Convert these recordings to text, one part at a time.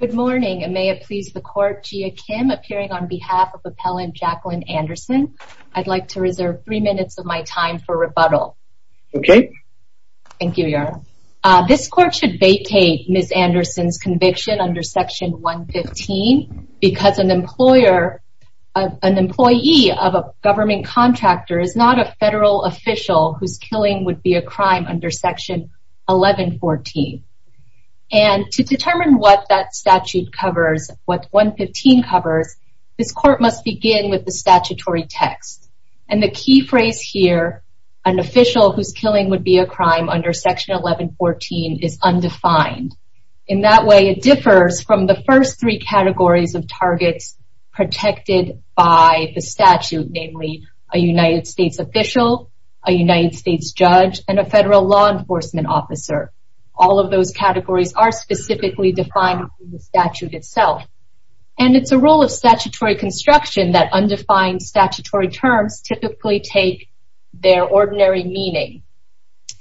Good morning and may it please the court, Gia Kim appearing on behalf of appellant Jacqueline Anderson. I'd like to reserve three minutes of my time for rebuttal. Okay. Thank you, Your Honor. This court should vacate Ms. Anderson's conviction under section 115 because an employer, an employee of a government contractor is not a federal official whose killing would be a crime under section 1114. And to determine what that statute covers, what 115 covers, this court must begin with the statutory text. And the key phrase here, an official whose killing would be a crime under section 1114 is undefined. In that way, it differs from the first three categories of targets protected by the statute, namely a United States official, a United States judge, and a federal law enforcement officer. All of those categories are specifically defined in the statute itself. And it's a role of statutory construction that undefined statutory terms typically take their ordinary meaning.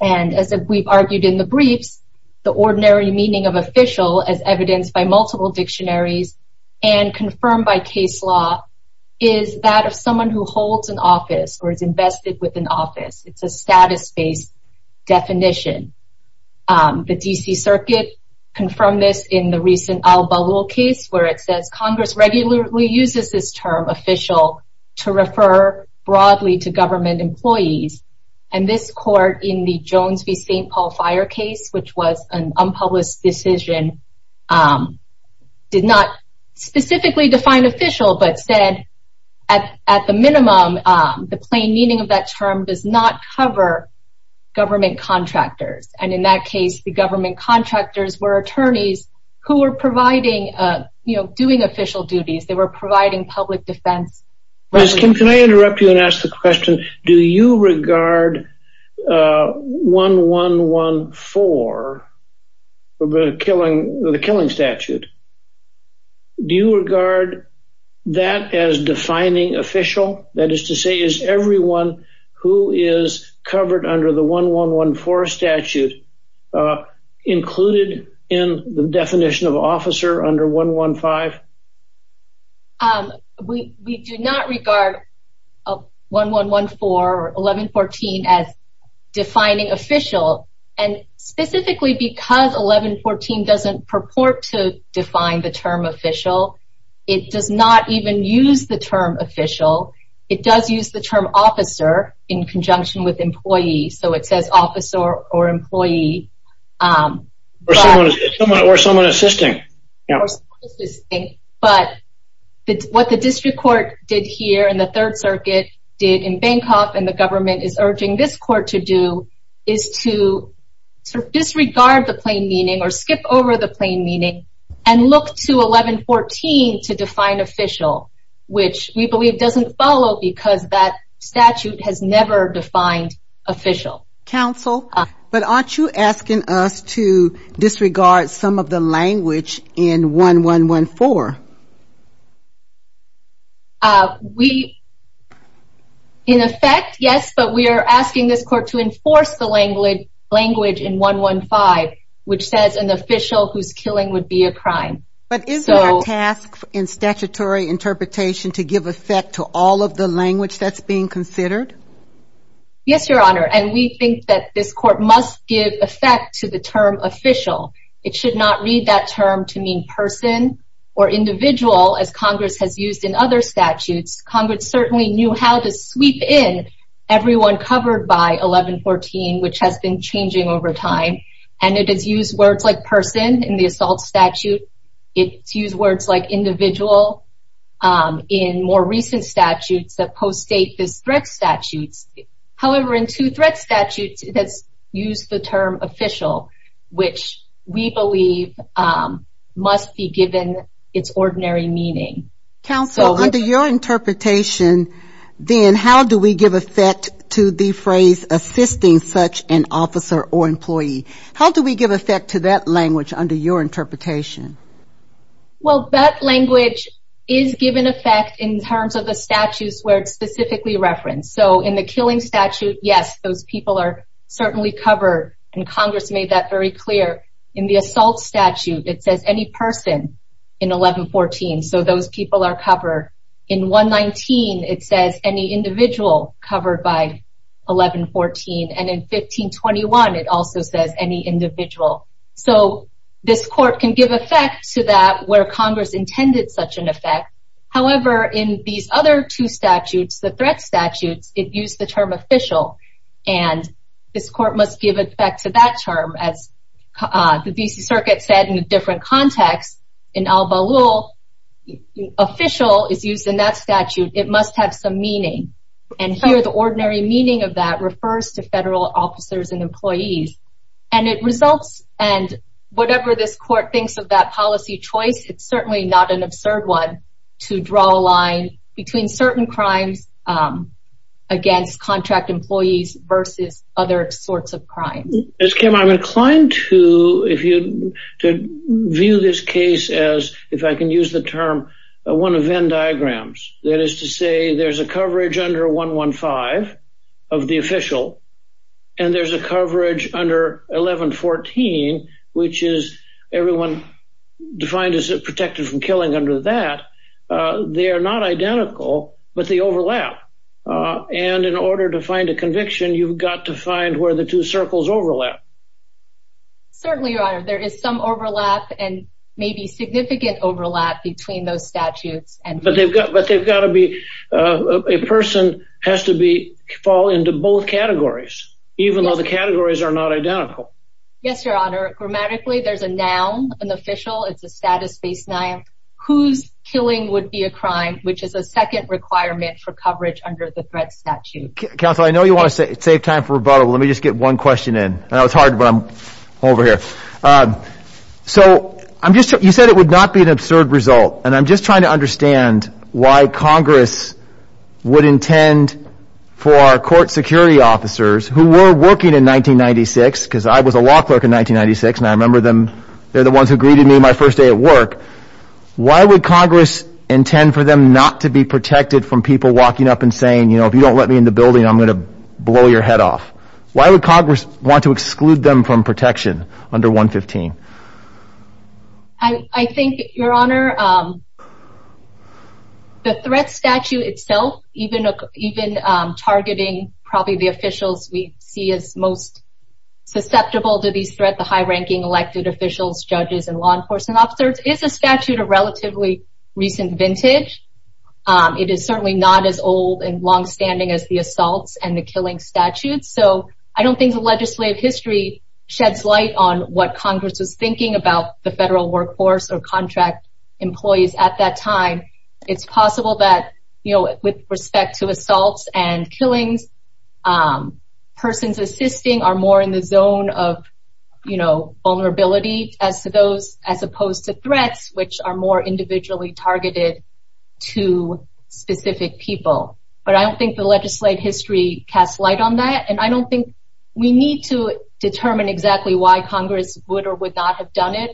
And as we've argued in the briefs, the ordinary meaning of official as evidenced by multiple dictionaries, and confirmed by case law, is that of someone who definition. The DC Circuit confirmed this in the recent Al-Bawool case, where it says Congress regularly uses this term official to refer broadly to government employees. And this court in the Jones v. St. Paul fire case, which was an unpublished decision, did not specifically define official but at the minimum, the plain meaning of that term does not cover government contractors. And in that case, the government contractors were attorneys who were providing, you know, doing official duties, they were providing public defense. Can I interrupt you and ask the question, do you regard 1-1-1-4, the killing statute, do you regard that as defining official, that is to say, is everyone who is covered under the 1-1-1-4 statute, included in the definition of officer under 1-1-5? We do not regard 1-1-1-4 or 11-14 as defining official, and specifically because 11-14 doesn't purport to define the term official, it does not even use the term official, it does use the term officer in conjunction with employee or someone assisting. But what the district court did here in the third circuit did in Bancroft and the government is urging this court to do is to disregard the plain meaning or skip over the plain meaning and look to 11-14 to define official, which we believe doesn't follow because that statute has never defined official. Counsel, but aren't you asking us to disregard some of the language in 1-1-1-4? In effect, yes, but we are asking this court to enforce the language in 1-1-5, which says an official who's killing would be a crime. But is there a task in statutory interpretation to give effect to all of the language that's being considered? Yes, Your Honor, and we think that this court must give effect to the term official. It should not read that term to mean person or individual as Congress has used in other statutes. Congress certainly knew how to sweep in everyone covered by 11-14, which has changing over time. And it has used words like person in the assault statute. It's used words like individual in more recent statutes that post-date this threat statutes. However, in two threat statutes, it has used the term official, which we believe must be given its ordinary meaning. Counsel, under your interpretation, then how do we give effect to the phrase assisting such an officer or employee? How do we give effect to that language under your interpretation? Well, that language is given effect in terms of the statutes where it's specifically referenced. So, in the killing statute, yes, those people are certainly covered, and Congress made that clear. In the assault statute, it says any person in 11-14. So, those people are covered. In 119, it says any individual covered by 11-14. And in 1521, it also says any individual. So, this court can give effect to that where Congress intended such an effect. However, in these other two statutes, the threat statutes, it used the term official. And this court must give effect to that term. As the D.C. Circuit said in a different context, in Al-Balul, official is used in that statute. It must have some meaning. And here, the ordinary meaning of that refers to federal officers and employees. And it results, and whatever this court thinks of that policy choice, it's certainly not an absurd one to draw a line between certain crimes against contract employees versus other sorts of crimes. Ms. Kim, I'm inclined to view this case as, if I can use the term, one of Venn diagrams. That is to say, there's a coverage under 115 of the official, and there's a coverage under 11-14, which is everyone defined as protected from killing under that. They are not identical, but they overlap. And in order to find a conviction, you've got to find where the two circles overlap. Certainly, Your Honor. There is some overlap and maybe significant overlap between those statutes. But they've got to be, a person has to be, fall into both categories, even though the categories are not identical. Yes, Your Honor. Grammatically, there's a noun, an official, it's a status-based noun, whose killing would be a crime, which is a second requirement for coverage under the threat statute. Counsel, I know you want to save time for rebuttal. Let me just get one question in. I know it's hard, but I'm over here. So, you said it would not be an absurd result, and I'm just trying to understand why Congress would intend for our court security officers, who were working in 1996, because I was a law clerk in 1996, and I remember them, the ones who greeted me my first day at work. Why would Congress intend for them not to be protected from people walking up and saying, you know, if you don't let me in the building, I'm going to blow your head off? Why would Congress want to exclude them from protection under 115? I think, Your Honor, the threat statute itself, even targeting probably the officials we see as susceptible to these threats, the high-ranking elected officials, judges, and law enforcement officers, is a statute of relatively recent vintage. It is certainly not as old and long-standing as the assaults and the killing statutes. So, I don't think the legislative history sheds light on what Congress was thinking about the federal workforce or contract employees at that time. It's possible that, you know, with respect to assaults and killings, persons assisting are more in the zone of, you know, vulnerability as opposed to threats, which are more individually targeted to specific people. But I don't think the legislative history casts light on that, and I don't think we need to determine exactly why Congress would or would not have done it.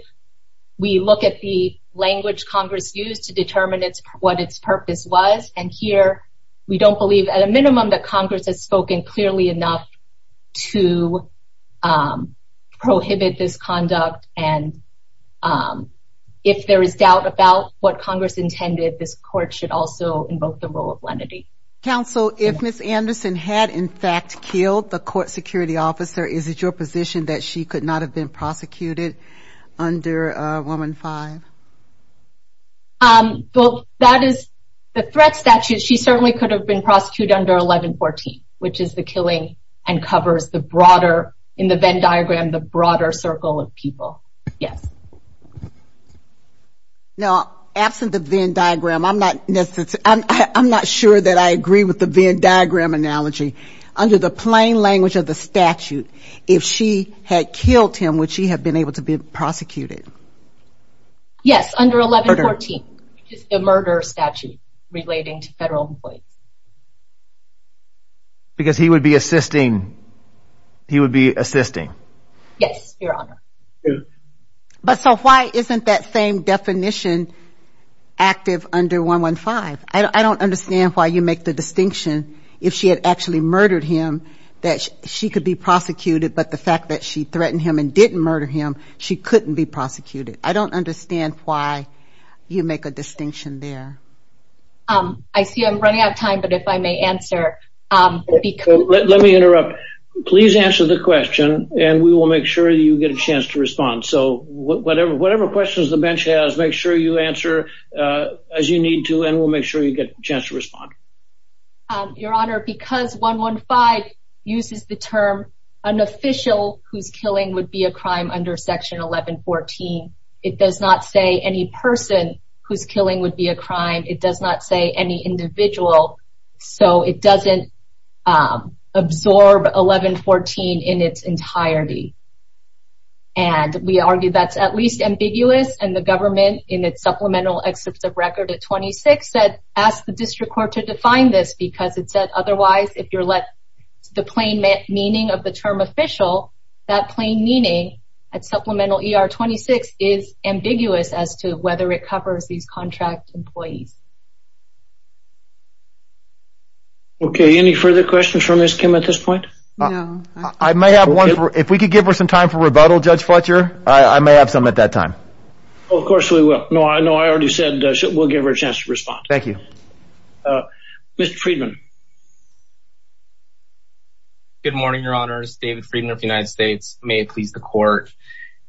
We look at the language Congress used to determine what its purpose was, and here we don't believe, at a minimum, that Congress has spoken clearly enough to prohibit this conduct. And if there is doubt about what Congress intended, this Court should also invoke the rule of lenity. Counsel, if Ms. Anderson had, in fact, killed the court security officer, is it your position that she could not have been prosecuted under Woman 5? Well, that is the threat statute. She certainly could have been prosecuted under 1114, which is the killing and covers the broader, in the Venn Diagram, the broader circle of people. Yes. Now, absent the Venn Diagram, I'm not sure that I agree with the Venn Diagram analogy. Under the plain language of the statute, if she had killed him, would she have been able to be prosecuted? Yes, under 1114, which is the murder statute relating to federal employees. Because he would be assisting, he would be assisting. Yes, Your Honor. But so why isn't that same definition active under 115? I don't understand why you make the distinction if she had actually murdered him, that she could be prosecuted. But the fact that she threatened him and didn't murder him, she couldn't be prosecuted. I don't understand why you make a distinction there. I see I'm running out of time, but if I may answer. Let me interrupt. Please answer the question and we will make sure you get a chance to respond. So whatever questions the bench has, make sure you answer as you need to, and we'll make sure you get a chance to respond. Your Honor, because 115 uses the term, an official whose killing would be a crime under section 1114, it does not say any person whose killing would be a crime. It does not say any individual, so it doesn't absorb 1114 in its entirety. And we argue that's at least ambiguous, and the government in its supplemental excerpt of record at 26 said, ask the district court to define this because it said otherwise, if you're let the plain meaning of the term official, that plain meaning at supplemental ER 26 is ambiguous as to whether it covers these contract employees. Okay, any further questions from Ms. Kim at this point? I may have one. If we could give her some time for rebuttal, Judge Fletcher, I may have some at that time. Oh, of course we will. No, I know I already said we'll give her a chance to respond. Thank you. Mr. Friedman. Good morning, Your Honors. David Friedman of the United States. May it please the court.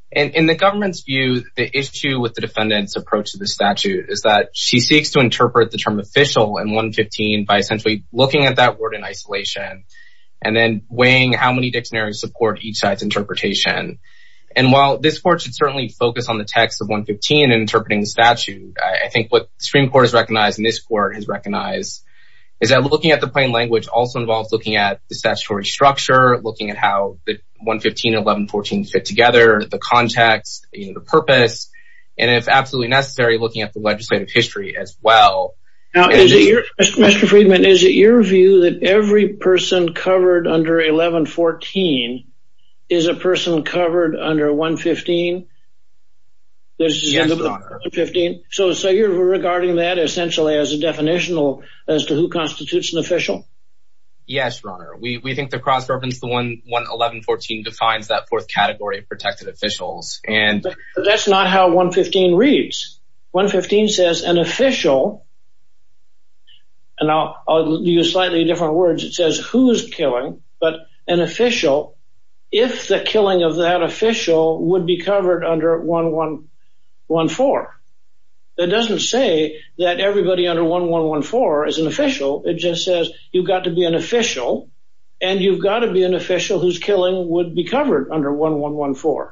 In the government's view, the issue with the defendant's approach to the statute is that she seeks to interpret the term official and 115 by essentially looking at that word in isolation and then weighing how many dictionaries support each side's interpretation. And while this court should certainly focus on the text of 115 and interpreting the statute, I think what Supreme Court has recognized and this court has recognized is that looking at the plain language also involves looking at the statutory structure, looking at how the 115 and 1114 fit together, the context, the purpose, and if absolutely necessary, looking at the legislative history as well. Mr. Friedman, is it your view that every person covered under 1114 is a person covered under 115? Yes, Your Honor. So you're regarding that essentially as a definitional as to who constitutes an official? Yes, Your Honor. We think the cross-governance, the 1114, defines that fourth category of protected officials. That's not how 115 reads. 115 says an official, and now I'll use slightly different words, it says who's killing, but an official, if the killing of that official would be covered under 1114. It doesn't say that everybody under 1114 is an official. It just says you've got to be an official and you've got to be an official whose killing would be covered under 1114.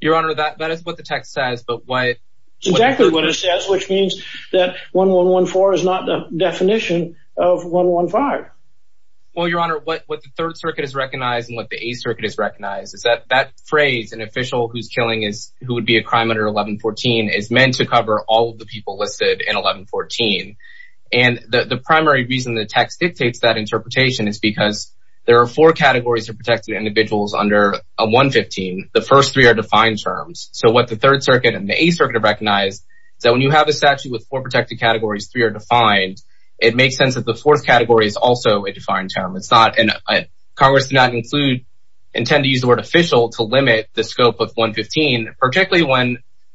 Your Honor, that is what the text says, but why? Exactly what it says, which means that 1114 is not the definition of 115. Well, Your Honor, what the Third Circuit has recognized and what the Eighth Circuit has recognized is that that phrase, an official who's killing is who would be a crime under 1114, is meant to cover all of the people listed in 1114. And the primary reason the text dictates that interpretation is because there are four categories of protected individuals under 115. The first three are defined terms. So what the Third Circuit and the Eighth Circuit have recognized is that when you have a statute with four protected categories, three are defined, it makes sense that the fourth category is also a defined term. It's not, and Congress did not include, intend to use the word official to limit the scope of 115, particularly when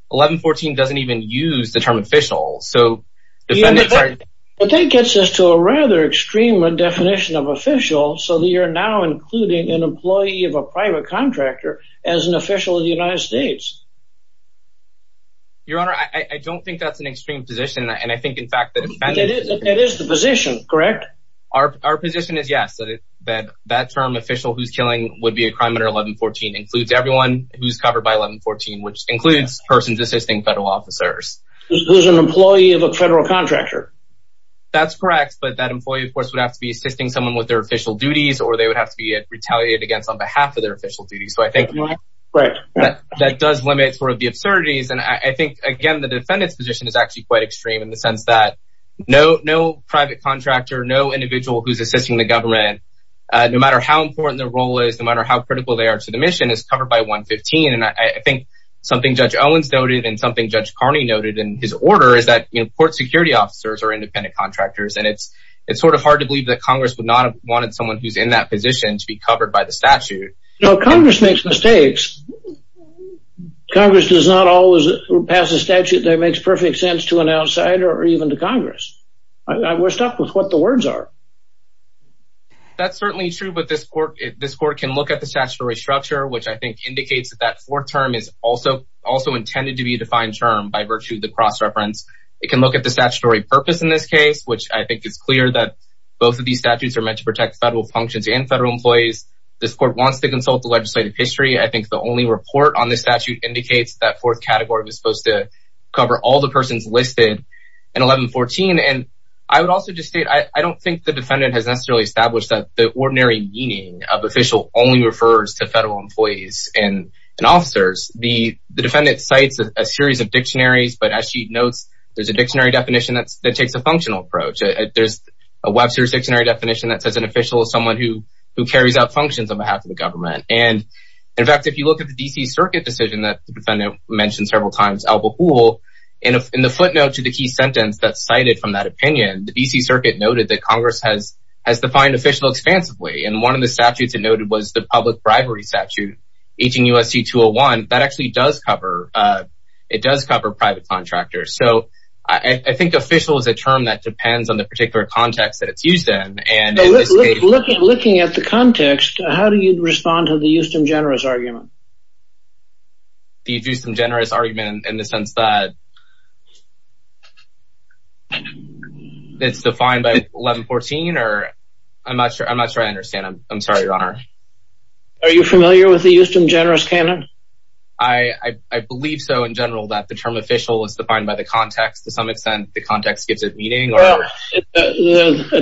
1114 doesn't even use the term official. So defendants are- But that gets us to a rather extreme definition of official, so that you're now including an as an official of the United States. Your Honor, I don't think that's an extreme position. And I think, in fact, the defendant- It is the position, correct? Our position is yes, that that term official who's killing would be a crime under 1114 includes everyone who's covered by 1114, which includes persons assisting federal officers. Who's an employee of a federal contractor. That's correct. But that employee, of course, would have to be assisting someone with their official duties, or they would have to be retaliated against on behalf of their official duties. So I think that does limit sort of the absurdities. And I think, again, the defendant's position is actually quite extreme in the sense that no private contractor, no individual who's assisting the government, no matter how important their role is, no matter how critical they are to the mission, is covered by 115. And I think something Judge Owens noted and something Judge Carney noted in his order is that, you know, court security officers are independent contractors. And it's sort of hard to believe that Congress would not have wanted someone who's in that position to be covered by the statute. No, Congress makes mistakes. Congress does not always pass a statute that makes perfect sense to an outsider or even to Congress. We're stuck with what the words are. That's certainly true. But this court, this court can look at the statutory structure, which I think indicates that that fourth term is also also intended to be defined term by virtue of the cross reference. It can look at the statutory purpose in this case, which I think is clear that both of these statutes are meant to protect federal functions and federal employees. This court wants to consult the legislative history. I think the only report on this statute indicates that fourth category was supposed to cover all the persons listed in 1114. And I would also just state, I don't think the defendant has necessarily established that the ordinary meaning of official only refers to federal employees and officers. The defendant cites a series of dictionaries, but as she notes, there's a dictionary definition that takes a functional approach. There's a Webster's dictionary definition that says an official is someone who carries out functions on behalf of the government. And in fact, if you look at the D.C. Circuit decision that the defendant mentioned several times, Al Bahul, in the footnote to the key sentence that cited from that opinion, the D.C. Circuit noted that Congress has defined official expansively. And one of the statutes it noted was the public bribery statute, 18 U.S.C. 201. That actually does cover, it does cover private contractors. So I think official is a term that how do you respond to the Euston generous argument? The Euston generous argument in the sense that it's defined by 1114 or I'm not sure. I'm not sure I understand. I'm sorry, your honor. Are you familiar with the Euston generous canon? I believe so in general, that the term official is defined by the context. To some extent, the context gives it meaning.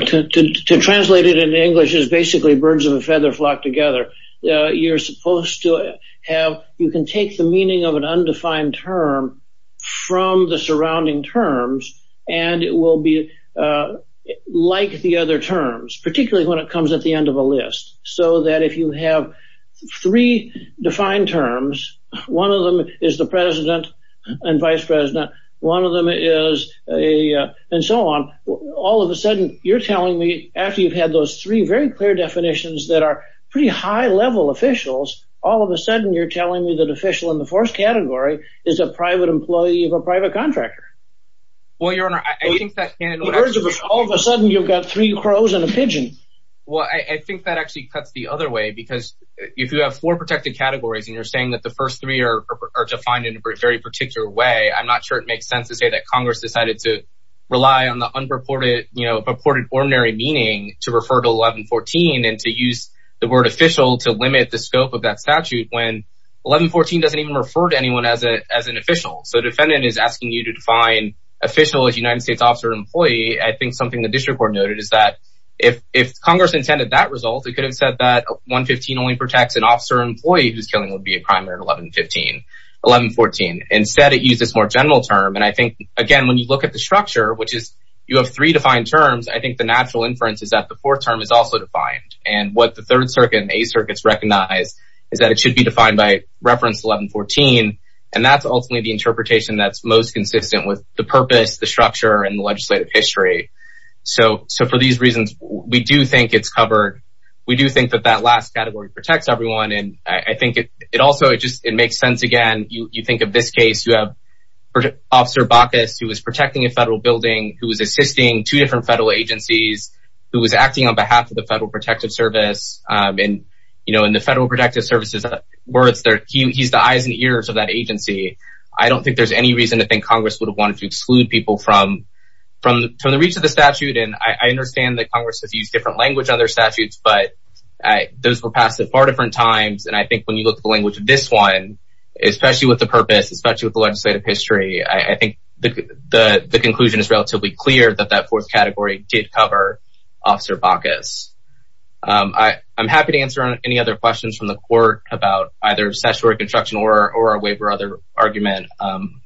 To translate it in English is basically birds of a feather flock together. You're supposed to have, you can take the meaning of an undefined term from the surrounding terms, and it will be like the other terms, particularly when it comes at the end of a list. So that if you have three defined terms, one of them is the president and vice president. One of them is a, and so on. All of a sudden you're telling me after you've had those three very clear definitions that are pretty high level officials, all of a sudden you're telling me that official in the fourth category is a private employee of a private contractor. Well, your honor, I think that all of a sudden you've got three crows and a pigeon. Well, I think that actually cuts the other way because if you have four protected categories and you're saying that the first three are defined in a very particular way, I'm not sure it makes sense to say that Congress decided to rely on the purported ordinary meaning to refer to 1114 and to use the word official to limit the scope of that statute when 1114 doesn't even refer to anyone as an official. So defendant is asking you to define official as United States officer employee. I think something the district court noted is that if Congress intended that result, it could have said that 115 only protects an officer employee who's killing would be a primary 1115, 1114. Instead it uses more general term. And I think again, when you look at the structure, which is you have three defined terms, I think the natural inference is that the fourth term is also defined and what the third circuit and a circuits recognize is that it should be defined by reference 1114. And that's ultimately the interpretation that's most consistent with the purpose, the structure and the legislative history. So, so for these reasons, we do think it's covered. We do think that that last category protects everyone. And I think it, it also, it just, it makes sense. Again, you think of this case, you have officer Bacchus who was protecting a federal building, who was assisting two different federal agencies, who was acting on behalf of the federal protective service. And, you know, in the federal protective services, where it's there, he's the eyes and ears of that agency. I don't think there's any reason to think Congress would have wanted to exclude people from, from, from the reach of the statute. And I understand that Congress has used different language on their statutes, but those were passed at far different times. And I think when you look at the language of this one, especially with the purpose, especially with the legislative history, I think the, the, the conclusion is relatively clear that that fourth category did cover officer Bacchus. I, I'm happy to answer any other questions from the court about either statutory construction or, or our waiver or other argument.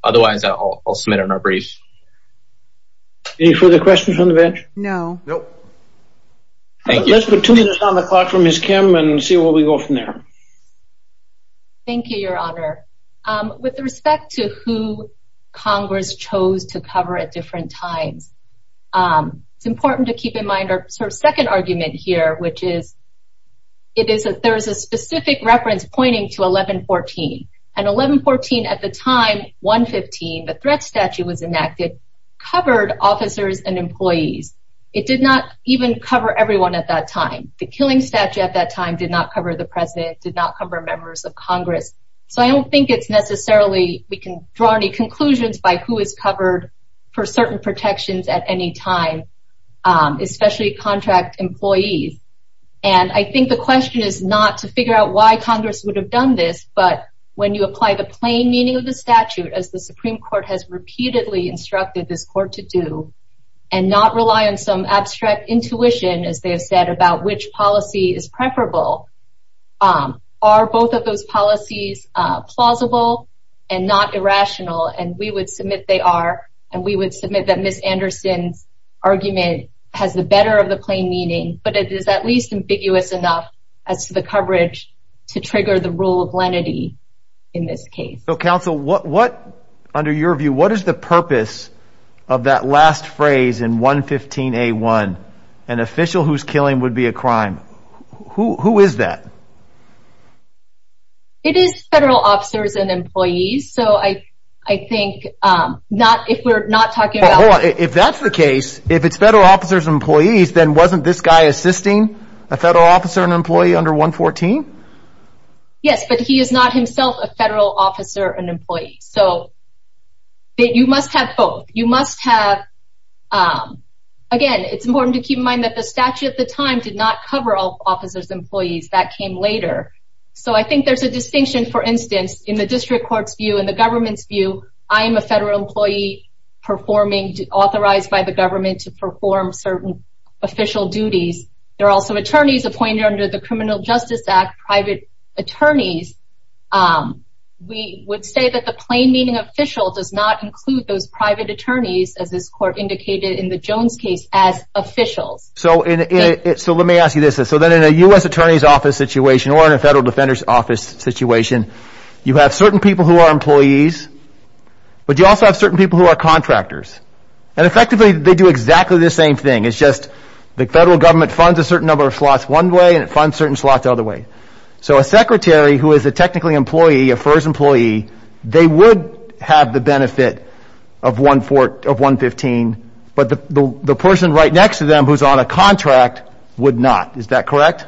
Otherwise I'll, I'll submit it in our brief. Any further questions on the bench? No. Nope. Thank you. Let's put two minutes on the clock for Ms. Kim and see where we go from there. Thank you, Your Honor. With respect to who Congress chose to cover at different times, it's important to keep in mind our sort of second argument here, which is, it is, there is a specific reference pointing to 1114. And 1114 at the time, 115, the threat statute was enacted, covered officers and employees. It did not even cover everyone at that time. The killing statute at that time did not cover the president, did not cover members of Congress. So I don't think it's necessarily, we can draw any conclusions by who is covered for certain protections at any time, especially contract employees. And I think the question is not to figure out why Congress would have done this, but when you apply the plain meaning of statute, as the Supreme Court has repeatedly instructed this court to do, and not rely on some abstract intuition, as they have said about which policy is preferable, are both of those policies plausible and not irrational? And we would submit they are. And we would submit that Ms. Anderson's argument has the better of the plain meaning, but it is at least ambiguous enough as to the coverage to trigger the rule of lenity in this case. So counsel, what, what, under your view, what is the purpose of that last phrase in 115 A1, an official who's killing would be a crime? Who is that? It is federal officers and employees. So I, I think, not if we're not talking about if that's the case, if it's federal officers and employees, then wasn't this guy assisting a federal officer and employee under 114? Yes, but he is not himself a federal officer and employee. So you must have both. You must have, again, it's important to keep in mind that the statute at the time did not cover all officers, employees that came later. So I think there's a distinction, for instance, in the district court's view and the government's view, I am a federal employee performing authorized by the government to perform certain official duties. There are also attorneys appointed under the criminal justice act, private attorneys. We would say that the plain meaning official does not include those private attorneys as this court indicated in the Jones case as officials. So in it, so let me ask you this. So then in a U.S. attorney's office situation or in a federal defender's office situation, you have certain people who are employees, but you also have certain people who are contractors. And effectively they do exactly the same thing. It's just the federal government funds a certain number of slots one way and it funds certain slots the other way. So a secretary who is a technically employee, a FERS employee, they would have the benefit of 115, but the person right next to them who's on a contract would not. Is that correct?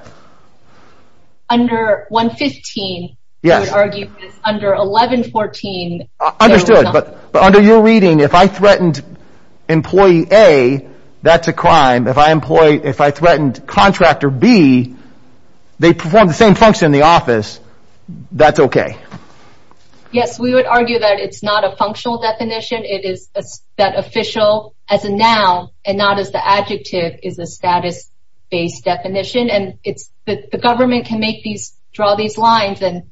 Under 115, I would argue, under 1114. Understood. But under your reading, if I threatened employee A, that's a crime. If I threatened contractor B, they perform the same function in the office, that's okay. Yes, we would argue that it's not a functional definition. It is that official as a noun and not as the adjective is a status based definition. And it's the government can make these, draw these and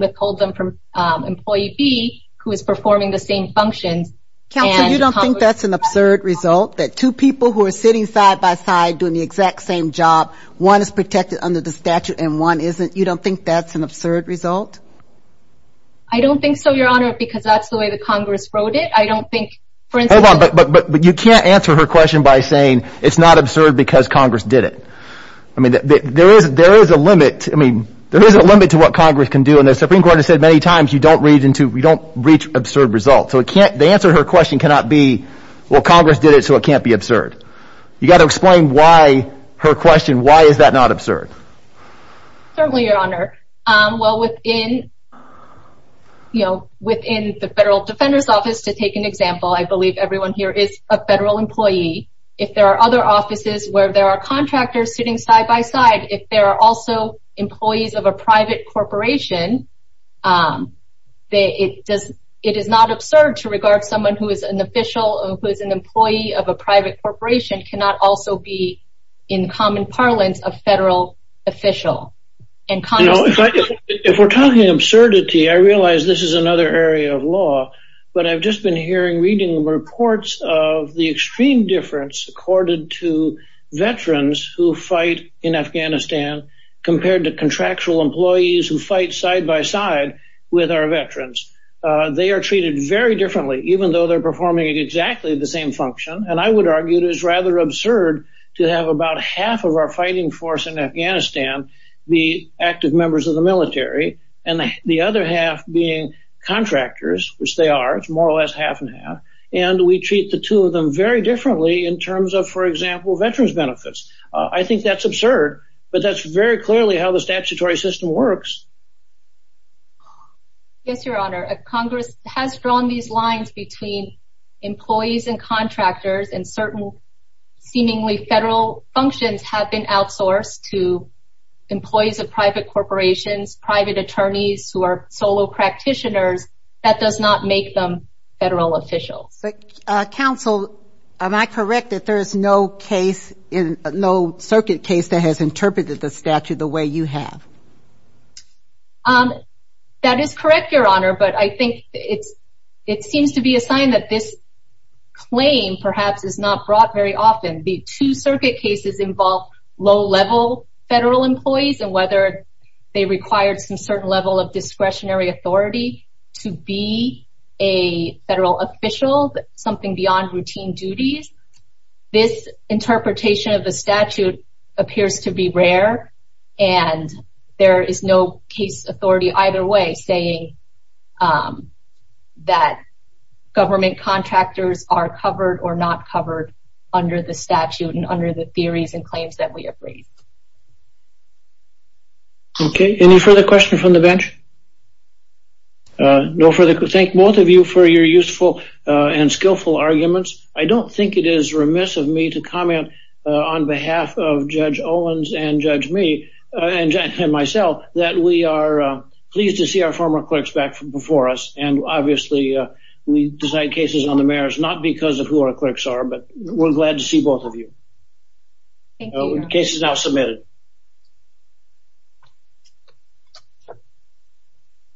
withhold them from employee B who is performing the same functions. Counselor, you don't think that's an absurd result? That two people who are sitting side by side doing the exact same job, one is protected under the statute and one isn't? You don't think that's an absurd result? I don't think so, Your Honor, because that's the way the Congress wrote it. I don't think, for instance... Hold on, but you can't answer her question by saying it's not an absurd result. The Supreme Court has said many times, you don't reach absurd results. The answer to her question cannot be, well, Congress did it, so it can't be absurd. You got to explain why her question, why is that not absurd? Certainly, Your Honor. Well, within the Federal Defender's Office, to take an example, I believe everyone here is a federal employee. If there are other offices where there are contractors sitting on the bench, it is not absurd to regard someone who is an official, who is an employee of a private corporation, cannot also be in common parlance of federal official. If we're talking absurdity, I realize this is another area of law, but I've just been hearing, reading reports of the extreme difference accorded to veterans who fight in Afghanistan compared to contractual employees who fight side by side with our veterans. They are treated very differently, even though they're performing exactly the same function, and I would argue it is rather absurd to have about half of our fighting force in Afghanistan be active members of the military, and the other half being contractors, which they are, it's more or less half and half, and we treat the two of them very differently in terms of, for example, benefits. I think that's absurd, but that's very clearly how the statutory system works. Yes, Your Honor. Congress has drawn these lines between employees and contractors, and certain seemingly federal functions have been outsourced to employees of private corporations, private attorneys who are solo practitioners. That does not make them federal officials. Counsel, am I correct that there is no case, no circuit case that has interpreted the statute the way you have? That is correct, Your Honor, but I think it seems to be a sign that this claim perhaps is not brought very often. The two circuit cases involve low-level federal employees, and whether they required some certain level of discretionary authority to be a federal official, something beyond routine duties, this interpretation of the statute appears to be rare, and there is no case authority either way saying that government contractors are covered or not covered under the statute and under the theories and claims that we have raised. Okay, any further questions from the bench? No further. Thank both of you for your useful and skillful arguments. I don't think it is remiss of me to comment on behalf of Judge Owens and myself that we are pleased to see our former clerks back before us, and obviously we decide cases on the merits not because of who our clerks are, but we're glad to see both of you. Thank you. Case is now submitted.